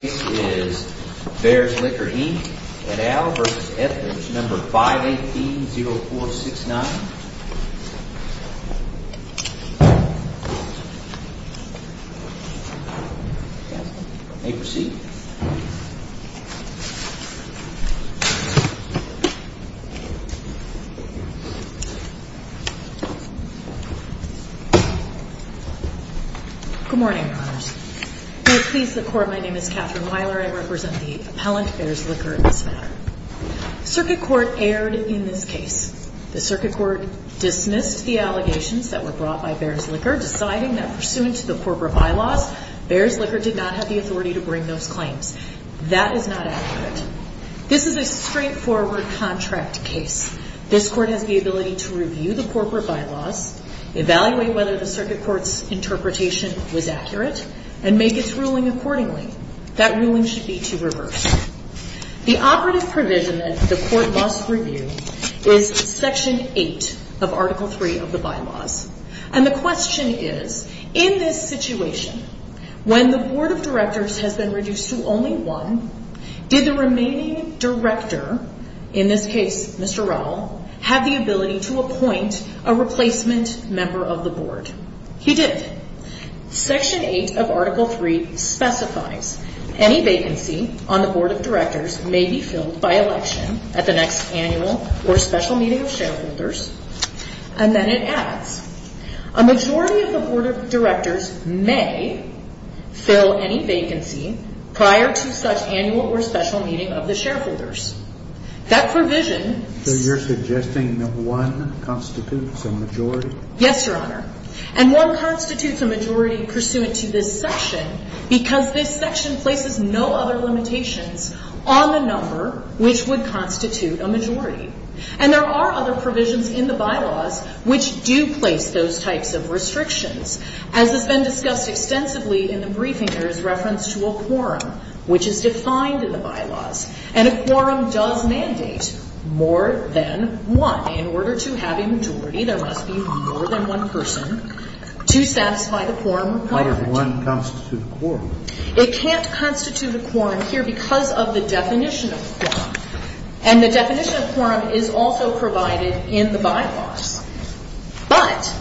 This is Fares Liquor, Inc. and Al v. Etheridge, No. 518-0469. May proceed. May it please the Court, my name is Katherine Weiler. I represent the appellant, Fares Liquor, in this matter. Circuit Court erred in this case. The Circuit Court dismissed the allegations that were brought by Fares Liquor, deciding that pursuant to the corporate bylaws, Fares Liquor did not have the authority to bring those claims. That is not accurate. This is a straightforward contract case. This Court has the ability to review the corporate bylaws, evaluate whether the Circuit Court's interpretation was accurate, and make its ruling accordingly. That ruling should be to reverse. The operative provision that the Court must review is Section 8 of Article 3 of the bylaws. And the question is, in this situation, when the Board of Directors has been reduced to only one, did the remaining director, in this case Mr. Rowell, have the ability to appoint a replacement member of the Board? He did. Section 8 of Article 3 specifies any vacancy on the Board of Directors may be filled by election at the next annual or special meeting of shareholders. And then it adds, a majority of the Board of Directors may fill any vacancy prior to such annual or special meeting of the shareholders. That provision... So you're suggesting that one constitutes a majority? Yes, Your Honor. And one constitutes a majority pursuant to this section, because this section places no other limitations on the number which would constitute a majority. And there are other provisions in the bylaws which do place those types of restrictions. As has been discussed extensively in the briefing, there is reference to a quorum, which is defined in the bylaws. And a quorum does mandate more than one. In order to have a majority, there must be more than one person to satisfy the quorum requirement. How does one constitute a quorum? It can't constitute a quorum here because of the definition of quorum. And the definition of quorum is also provided in the bylaws. But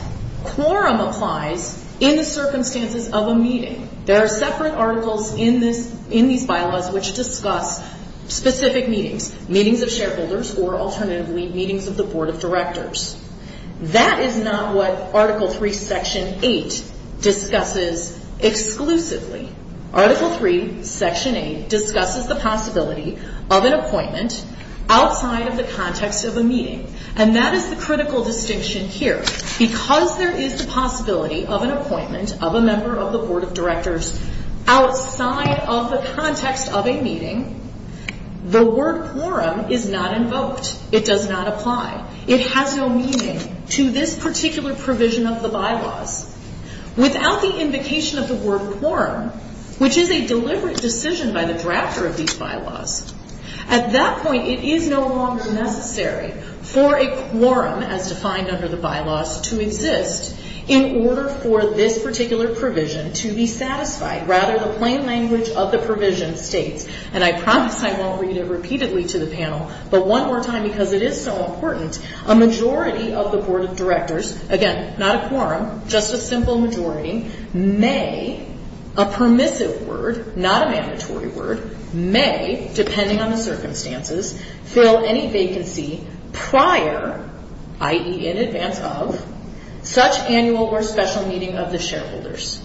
quorum applies in the circumstances of a meeting. There are separate articles in these bylaws which discuss specific meetings, meetings of shareholders or alternatively meetings of the board of directors. That is not what Article 3, Section 8 discusses exclusively. Article 3, Section 8 discusses the possibility of an appointment outside of the context of a meeting. And that is the critical distinction here. Because there is the possibility of an appointment of a member of the board of directors outside of the context of a meeting, the word quorum is not invoked. It does not apply. It has no meaning to this particular provision of the bylaws. Without the invocation of the word quorum, which is a deliberate decision by the drafter of these bylaws, at that point it is no longer necessary for a quorum as defined under the bylaws to exist in order for this particular provision to be satisfied. Rather, the plain language of the provision states, and I promise I won't read it repeatedly to the panel, but one more time because it is so important, a majority of the board of directors, again not a quorum, just a simple majority, may, a permissive word, not a mandatory word, may, depending on the circumstances, fill any vacancy prior, i.e. in advance of, such annual or special meeting of the shareholders.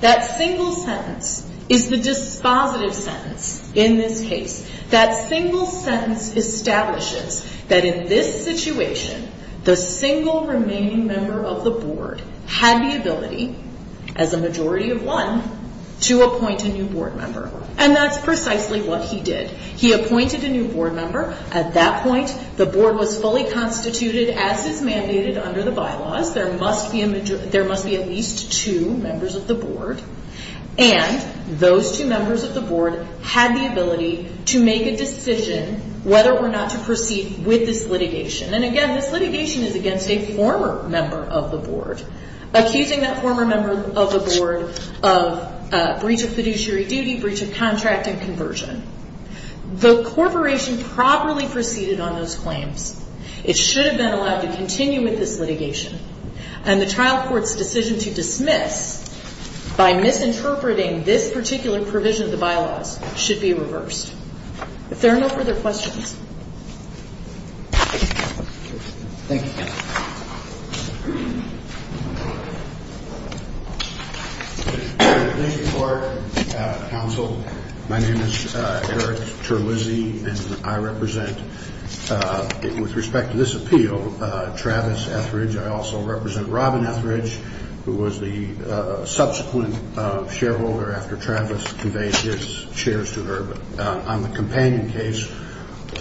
That single sentence is the dispositive sentence in this case. That single sentence establishes that in this situation, the single remaining member of the board had the ability, as a majority of one, to appoint a new board member. And that's precisely what he did. He appointed a new board member. At that point, the board was fully constituted as is mandated under the bylaws. There must be at least two members of the board. And those two members of the board had the ability to make a decision whether or not to proceed with this litigation. And again, this litigation is against a former member of the board, accusing that former member of the board of breach of fiduciary duty, breach of contract, and conversion. The corporation properly proceeded on those claims. It should have been allowed to continue with this litigation. And the trial court's decision to dismiss by misinterpreting this particular provision of the bylaws should be reversed. If there are no further questions. Thank you. Thank you. Thank you, court, counsel. My name is Eric Terlizzi, and I represent, with respect to this appeal, Travis Etheridge. I also represent Robin Etheridge, who was the subsequent shareholder after Travis conveyed his shares to her on the companion case,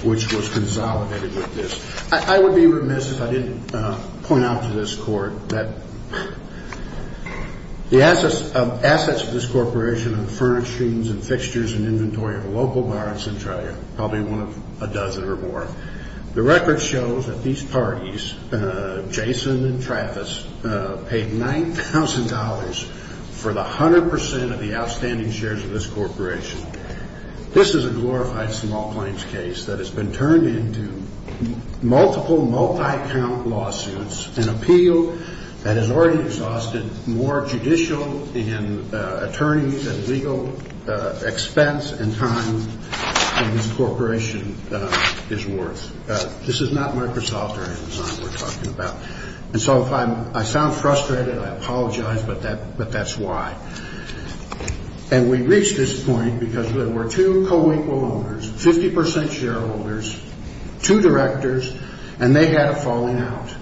which was consolidated with this. I would be remiss if I didn't point out to this court that the assets of this corporation are the furnishings and fixtures and inventory of a local bar in Centralia, probably one of a dozen or more. The record shows that these parties, Jason and Travis, paid $9,000 for the 100% of the outstanding shares of this corporation. This is a glorified small claims case that has been turned into multiple multi-count lawsuits, an appeal that has already exhausted more judicial and attorney and legal expense and time than this corporation is worth. This is not Microsoft or Amazon we're talking about. And so if I sound frustrated, I apologize, but that's why. And we reach this point because there were two co-equal owners, 50% shareholders, two directors, and they had it falling out.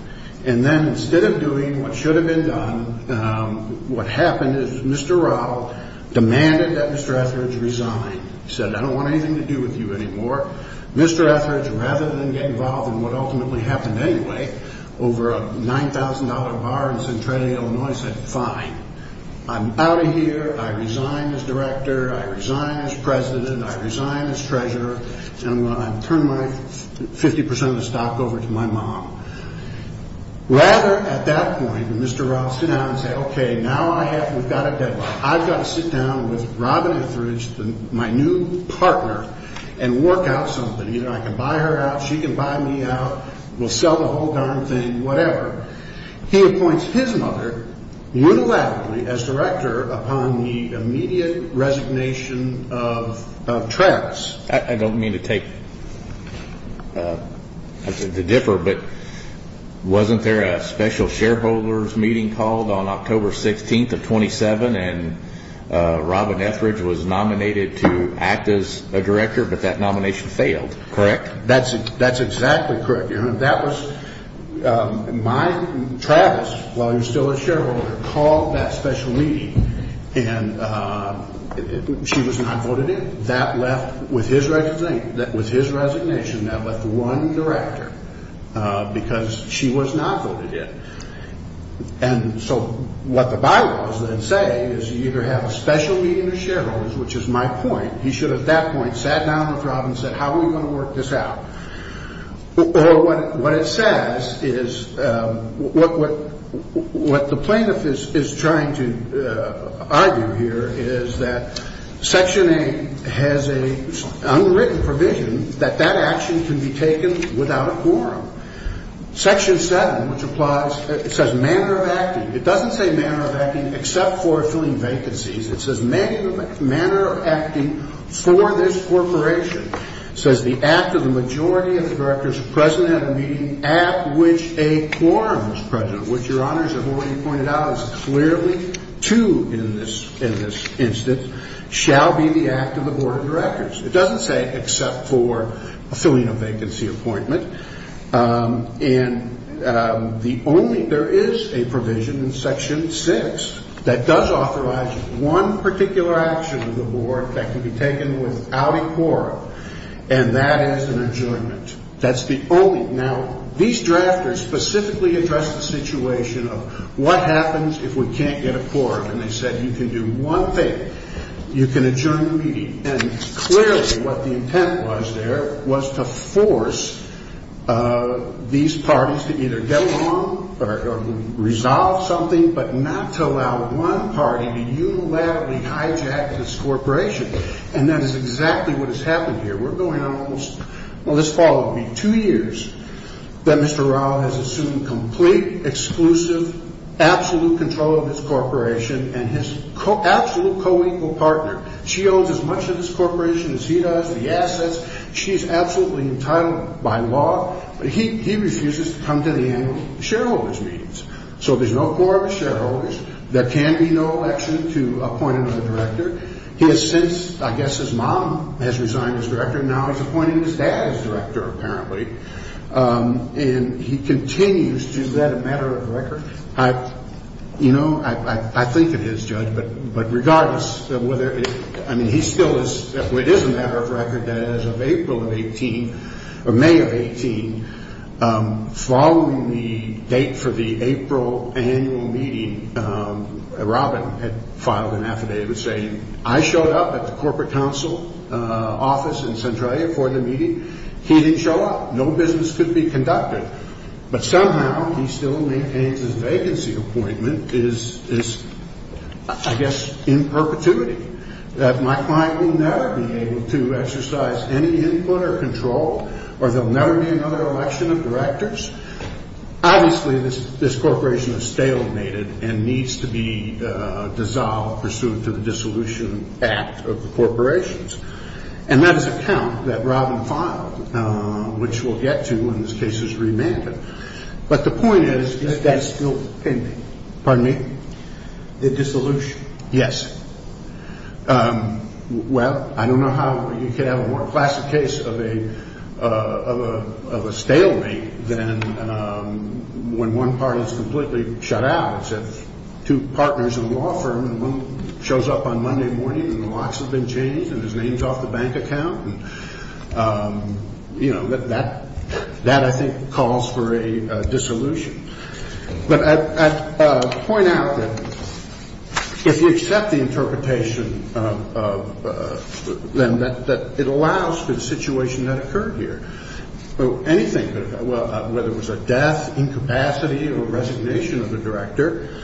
And then instead of doing what should have been done, what happened is Mr. Rao demanded that Mr. Etheridge resign. He said, I don't want anything to do with you anymore. Mr. Etheridge, rather than get involved in what ultimately happened anyway, over a $9,000 bar in Centralia, Illinois, said, fine. I'm out of here, I resign as director, I resign as president, I resign as treasurer, and I'm going to turn 50% of the stock over to my mom. Rather, at that point, Mr. Rao said, okay, now we've got a deadline. I've got to sit down with Robin Etheridge, my new partner, and work out something. Either I can buy her out, she can buy me out, we'll sell the whole darn thing, whatever. He appoints his mother unilaterally as director upon the immediate resignation of Travis. I don't mean to take, to differ, but wasn't there a special shareholders meeting called on October 16th of 27 and Robin Etheridge was nominated to act as a director, but that nomination failed, correct? That's exactly correct. Travis, while he was still a shareholder, called that special meeting and she was not voted in. That left, with his resignation, that left one director because she was not voted in. And so what the bylaws then say is you either have a special meeting of shareholders, which is my point. He should have, at that point, sat down with Robin and said, how are we going to work this out? Or what it says is what the plaintiff is trying to argue here is that Section 8 has an unwritten provision that that action can be taken without a quorum. Section 7, which applies, it says manner of acting. It doesn't say manner of acting except for filling vacancies. It says manner of acting for this corporation. It says the act of the majority of the directors present at a meeting at which a quorum is present, which, Your Honors, as already pointed out, is clearly two in this instance, shall be the act of the Board of Directors. It doesn't say except for filling a vacancy appointment. And the only there is a provision in Section 6 that does authorize one particular action of the board that can be taken without a quorum, and that is an adjournment. That's the only. Now, these drafters specifically address the situation of what happens if we can't get a quorum. And they said you can do one thing. You can adjourn the meeting. And clearly what the intent was there was to force these parties to either get along or resolve something, but not to allow one party to unilaterally hijack this corporation. And that is exactly what has happened here. We're going on almost, well, this fall it will be two years that Mr. Rao has assumed complete, exclusive, absolute control of this corporation and his absolute co-equal partner. She owns as much of this corporation as he does, the assets. She is absolutely entitled by law. But he refuses to come to the annual shareholders meetings. So there's no quorum of shareholders. There can be no election to appoint another director. He has since, I guess his mom has resigned as director. Now he's appointing his dad as director apparently. And he continues to do that a matter of record. You know, I think it is, Judge, but regardless, I mean, he still is, it is a matter of record that as of April of 18, or May of 18, following the date for the April annual meeting, Robin had filed an affidavit saying I showed up at the corporate council office in Centralia for the meeting. He didn't show up. No business could be conducted. But somehow he still maintains his vacancy appointment is, I guess, in perpetuity. That my client will never be able to exercise any input or control, or there will never be another election of directors. Obviously this corporation is stalemated and needs to be dissolved pursuant to the Dissolution Act of the corporations. And that is a count that Robin filed, which we'll get to when this case is remanded. But the point is, is that still pending? Pardon me? The dissolution. Yes. Well, I don't know how you could have a more classic case of a stalemate than when one party is completely shut out, except two partners in a law firm and one shows up on Monday morning and the locks have been changed and his name is off the bank account. That, I think, calls for a dissolution. But I'd point out that if you accept the interpretation, then it allows for the situation that occurred here. Anything could have happened, whether it was a death, incapacity, or resignation of a director.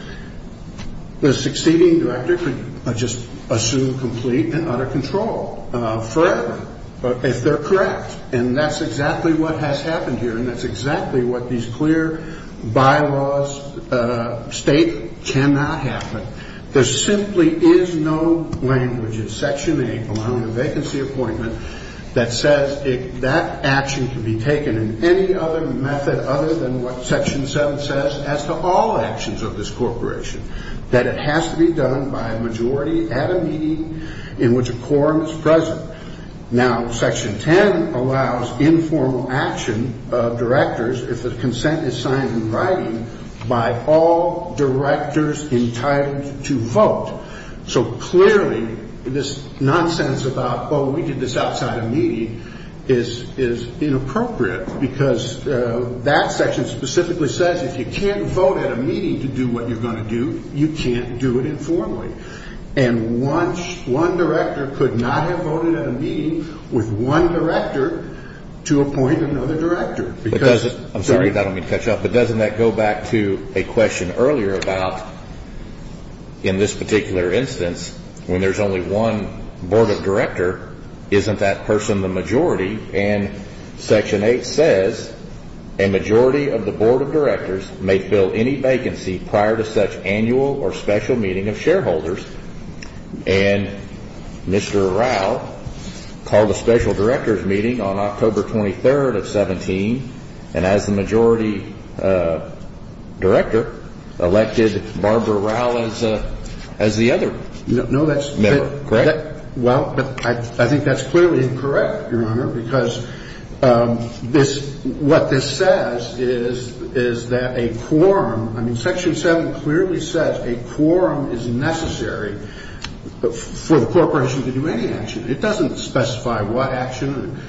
The succeeding director could just assume complete and utter control forever, if they're correct. And that's exactly what has happened here, and that's exactly what these clear bylaws state cannot happen. There simply is no language in Section 8, allowing a vacancy appointment that says that action can be taken in any other method other than what Section 7 says as to all actions of this corporation, that it has to be done by a majority at a meeting in which a quorum is present. Now, Section 10 allows informal action of directors if the consent is signed in writing by all directors entitled to vote. So clearly, this nonsense about, oh, we did this outside a meeting, is inappropriate because that section specifically says if you can't vote at a meeting to do what you're going to do, you can't do it informally. And one director could not have voted at a meeting with one director to appoint another director. I'm sorry if I don't mean to cut you off, but doesn't that go back to a question earlier about, in this particular instance, when there's only one board of director, isn't that person the majority? And Section 8 says a majority of the board of directors may fill any vacancy prior to such annual or special meeting of shareholders. And Mr. Rao called a special director's meeting on October 23rd of 17, and as the majority director elected Barbara Rao as the other member, correct? Well, I think that's clearly incorrect, Your Honor, because what this says is that a quorum, I mean, Section 7 clearly says a quorum is necessary for the corporation to do any action. It doesn't specify what action.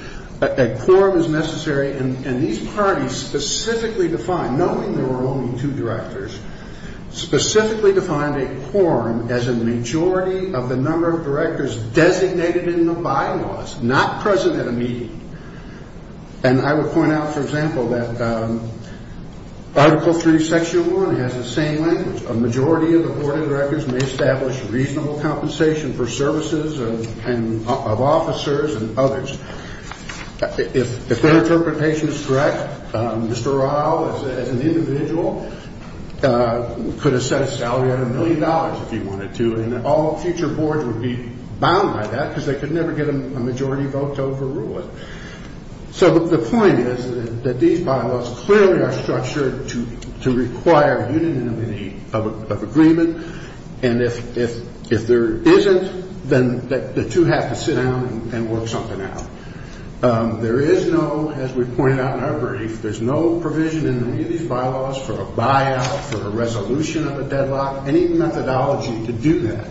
A quorum is necessary, and these parties specifically defined, knowing there were only two directors, specifically defined a quorum as a majority of the number of directors designated in the bylaws, not present at a meeting. And I would point out, for example, that Article 3, Section 1 has the same language. A majority of the board of directors may establish reasonable compensation for services of officers and others. If their interpretation is correct, Mr. Rao, as an individual, could have set a salary of a million dollars if he wanted to, and all future boards would be bound by that because they could never get a majority vote to overrule it. So the point is that these bylaws clearly are structured to require unity of agreement, and if there isn't, then the two have to sit down and work something out. There is no, as we pointed out in our brief, there's no provision in any of these bylaws for a buyout, for a resolution of a deadlock, any methodology to do that.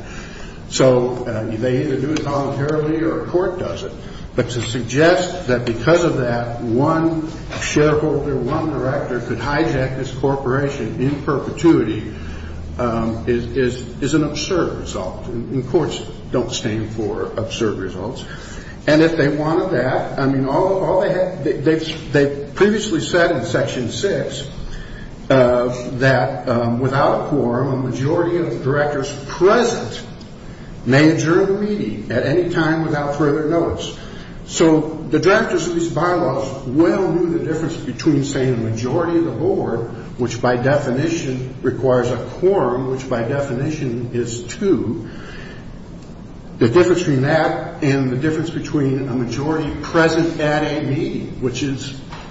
So they either do it voluntarily or a court does it. But to suggest that because of that, one shareholder, one director, could hijack this corporation in perpetuity is an absurd result. And courts don't stand for absurd results. And if they wanted that, I mean, they previously said in Section 6 that without a quorum, a majority of the directors present may adjourn the meeting at any time without further notice. So the directors of these bylaws well knew the difference between, say, a majority of the board, which by definition requires a quorum, which by definition is two, the difference between that and the difference between a majority present at a meeting, which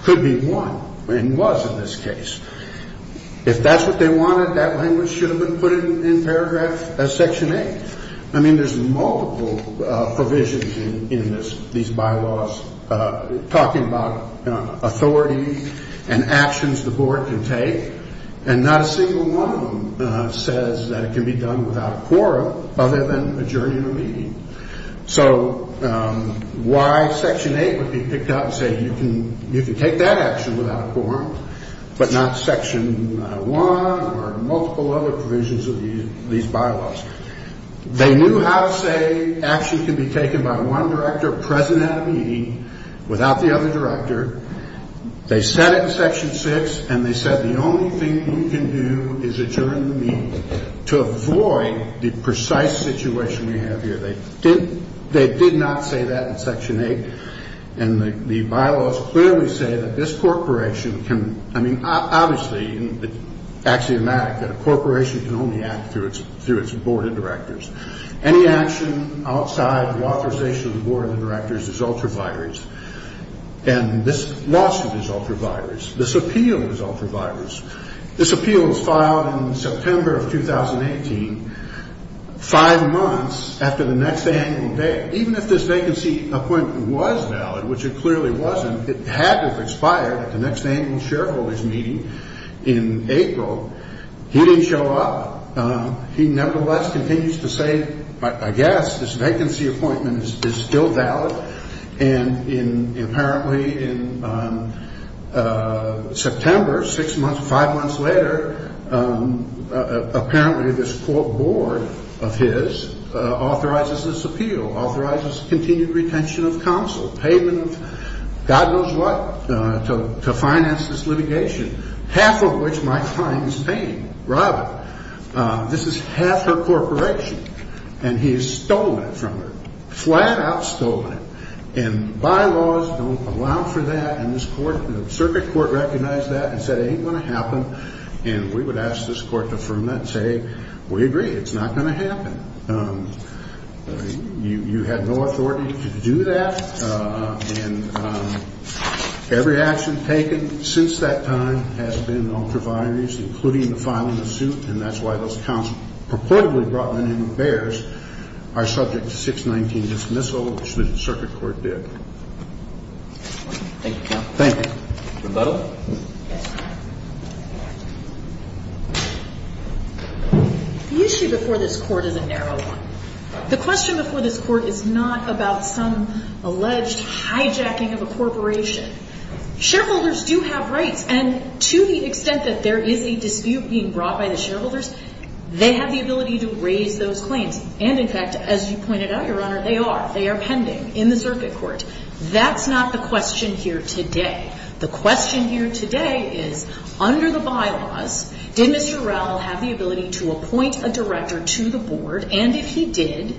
could be one, and was in this case. If that's what they wanted, that language should have been put in paragraph Section 8. I mean, there's multiple provisions in these bylaws talking about authority and actions the board can take, and not a single one of them says that it can be done without a quorum other than adjourning a meeting. So why Section 8 would be picked up and say you can take that action without a quorum but not Section 1 or multiple other provisions of these bylaws? They knew how to say action can be taken by one director present at a meeting without the other director. They said it in Section 6, and they said the only thing you can do is adjourn the meeting to avoid the precise situation we have here. They did not say that in Section 8. And the bylaws clearly say that this corporation can, I mean, obviously, it's axiomatic, that a corporation can only act through its board of directors. Any action outside the authorization of the board of directors is ultraviolet. And this lawsuit is ultraviolet. This appeal is ultraviolet. This appeal was filed in September of 2018, five months after the next annual day. Even if this vacancy appointment was valid, which it clearly wasn't, it had to have expired at the next annual shareholders' meeting in April. He didn't show up. He nevertheless continues to say, I guess this vacancy appointment is still valid. And apparently in September, six months, five months later, apparently this court board of his authorizes this appeal, authorizes continued retention of counsel, payment of God knows what to finance this litigation, half of which might find his name, Robert. This is half her corporation, and he has stolen it from her, flat out stolen it. And bylaws don't allow for that. And this court, the circuit court recognized that and said it ain't going to happen. And we would ask this court to affirm that and say, we agree, it's not going to happen. You had no authority to do that. And every action taken since that time has been ultraviolet, including the filing of the suit. And that's why those counsels purportedly brought the name of Behrs are subject to 619 dismissal, which the circuit court did. Thank you, counsel. Thank you. Rebuttal. The issue before this court is a narrow one. The question before this court is not about some alleged hijacking of a corporation. Shareholders do have rights. And to the extent that there is a dispute being brought by the shareholders, they have the ability to raise those claims. And, in fact, as you pointed out, Your Honor, they are. They are pending in the circuit court. That's not the question here today. The question here today is, under the bylaws, did Mr. Rowell have the ability to appoint a director to the board? And if he did,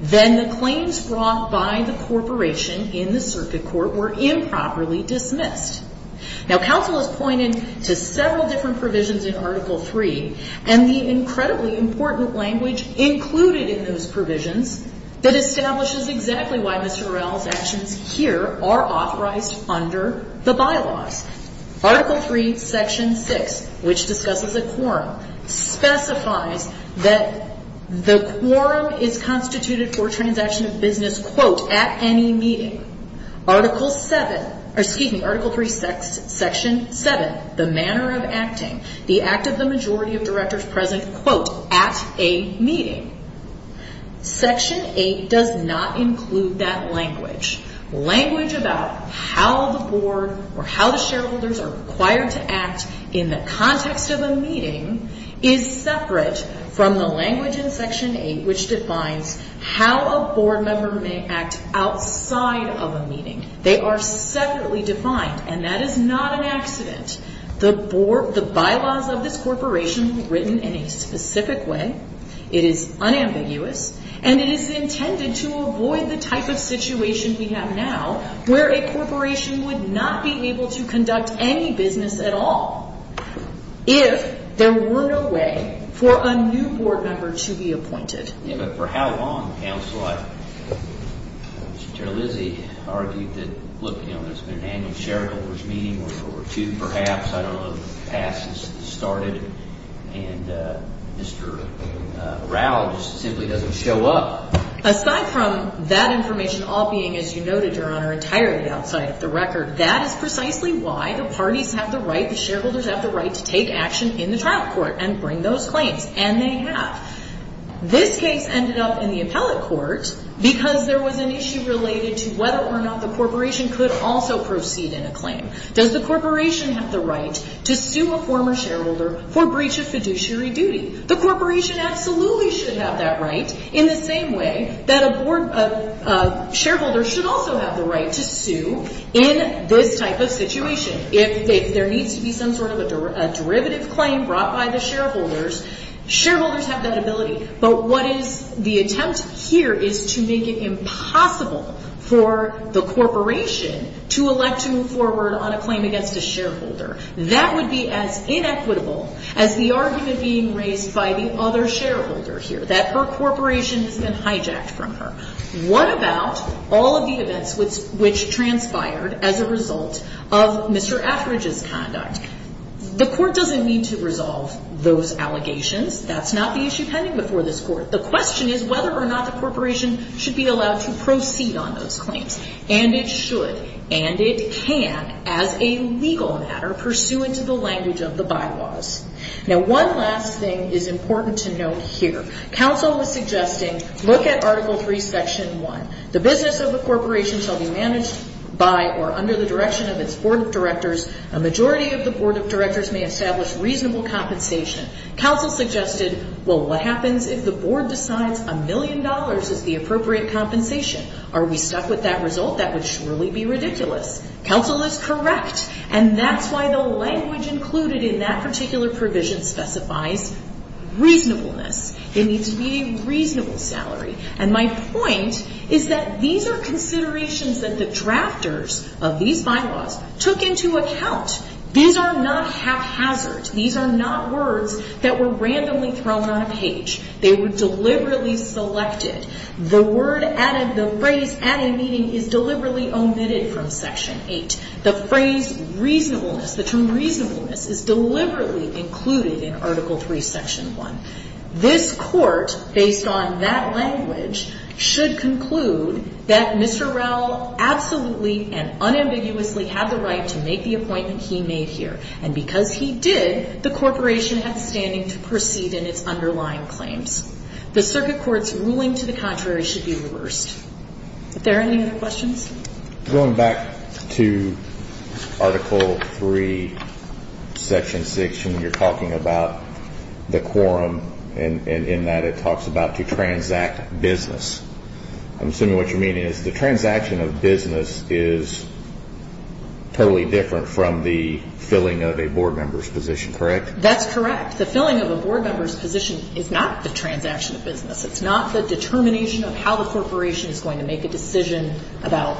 then the claims brought by the corporation in the circuit court were improperly dismissed. Now, counsel has pointed to several different provisions in Article III, and the incredibly important language included in those provisions that establishes exactly why Mr. Rowell's actions here are authorized under the bylaws. Article III, Section 6, which discusses a quorum, specifies that the quorum is constituted for transaction of business, quote, at any meeting. Article VII or, excuse me, Article III, Section 7, the manner of acting, the act of the majority of directors present, quote, at a meeting. Section 8 does not include that language. Language about how the board or how the shareholders are required to act in the context of a meeting is separate from the language in Section 8, which defines how a board member may act outside of a meeting. They are separately defined, and that is not an accident. The bylaws of this corporation were written in a specific way. It is unambiguous, and it is intended to avoid the type of situation we have now where a corporation would not be able to conduct any business at all if there were no way for a new board member to be appointed. Yeah, but for how long, counsel? Mr. Terlizzi argued that, look, you know, there's been an annual shareholders' meeting or two perhaps. I don't know if the past has started. And Mr. Rao just simply doesn't show up. Aside from that information all being, as you noted, Your Honor, entirely outside of the record, that is precisely why the parties have the right, the shareholders have the right, to take action in the trial court and bring those claims, and they have. This case ended up in the appellate court because there was an issue related to whether or not the corporation could also proceed in a claim. Does the corporation have the right to sue a former shareholder for breach of fiduciary duty? The corporation absolutely should have that right in the same way that a shareholder should also have the right to sue in this type of situation. If there needs to be some sort of a derivative claim brought by the shareholders, shareholders have that ability, but what is the attempt here is to make it impossible for the corporation to elect to move forward on a claim against a shareholder. That would be as inequitable as the argument being raised by the other shareholder here, that her corporation has been hijacked from her. What about all of the events which transpired as a result of Mr. Attridge's conduct? The court doesn't need to resolve those allegations. That's not the issue pending before this court. The question is whether or not the corporation should be allowed to proceed on those claims, and it should, and it can, as a legal matter pursuant to the language of the bylaws. Now, one last thing is important to note here. Counsel was suggesting, look at Article III, Section 1. The business of the corporation shall be managed by or under the direction of its board of directors, a majority of the board of directors may establish reasonable compensation. Counsel suggested, well, what happens if the board decides a million dollars is the appropriate compensation? Are we stuck with that result? That would surely be ridiculous. Counsel is correct, and that's why the language included in that particular provision specifies reasonableness. It needs to be a reasonable salary, and my point is that these are considerations that the drafters of these bylaws took into account. These are not haphazard. These are not words that were randomly thrown on a page. They were deliberately selected. The phrase, at a meeting, is deliberately omitted from Section 8. The phrase reasonableness, the term reasonableness, is deliberately included in Article III, Section 1. This court, based on that language, should conclude that Mr. Rowell absolutely and unambiguously had the right to make the appointment he made here, and because he did, the corporation has standing to proceed in its underlying claims. The circuit court's ruling to the contrary should be reversed. Are there any other questions? Going back to Article III, Section 6, when you're talking about the quorum in that it talks about to transact business, I'm assuming what you're meaning is the transaction of business is totally different from the filling of a board member's position, correct? That's correct. The filling of a board member's position is not the transaction of business. It's not the determination of how the corporation is going to make a decision about,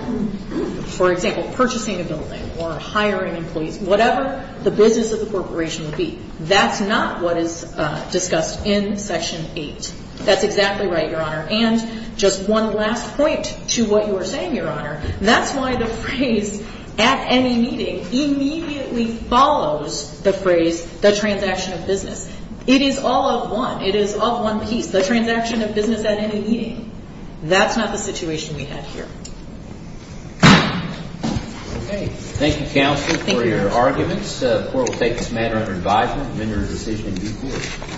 for example, purchasing a building or hiring employees, whatever the business of the corporation would be. That's not what is discussed in Section 8. That's exactly right, Your Honor. And just one last point to what you were saying, Your Honor, that's why the phrase, at any meeting, immediately follows the phrase, the transaction of business. It is all of one. It is of one piece. The transaction of business at any meeting, that's not the situation we have here. Thank you, counsel, for your arguments. The court will take this matter under advisement and render a decision in due course.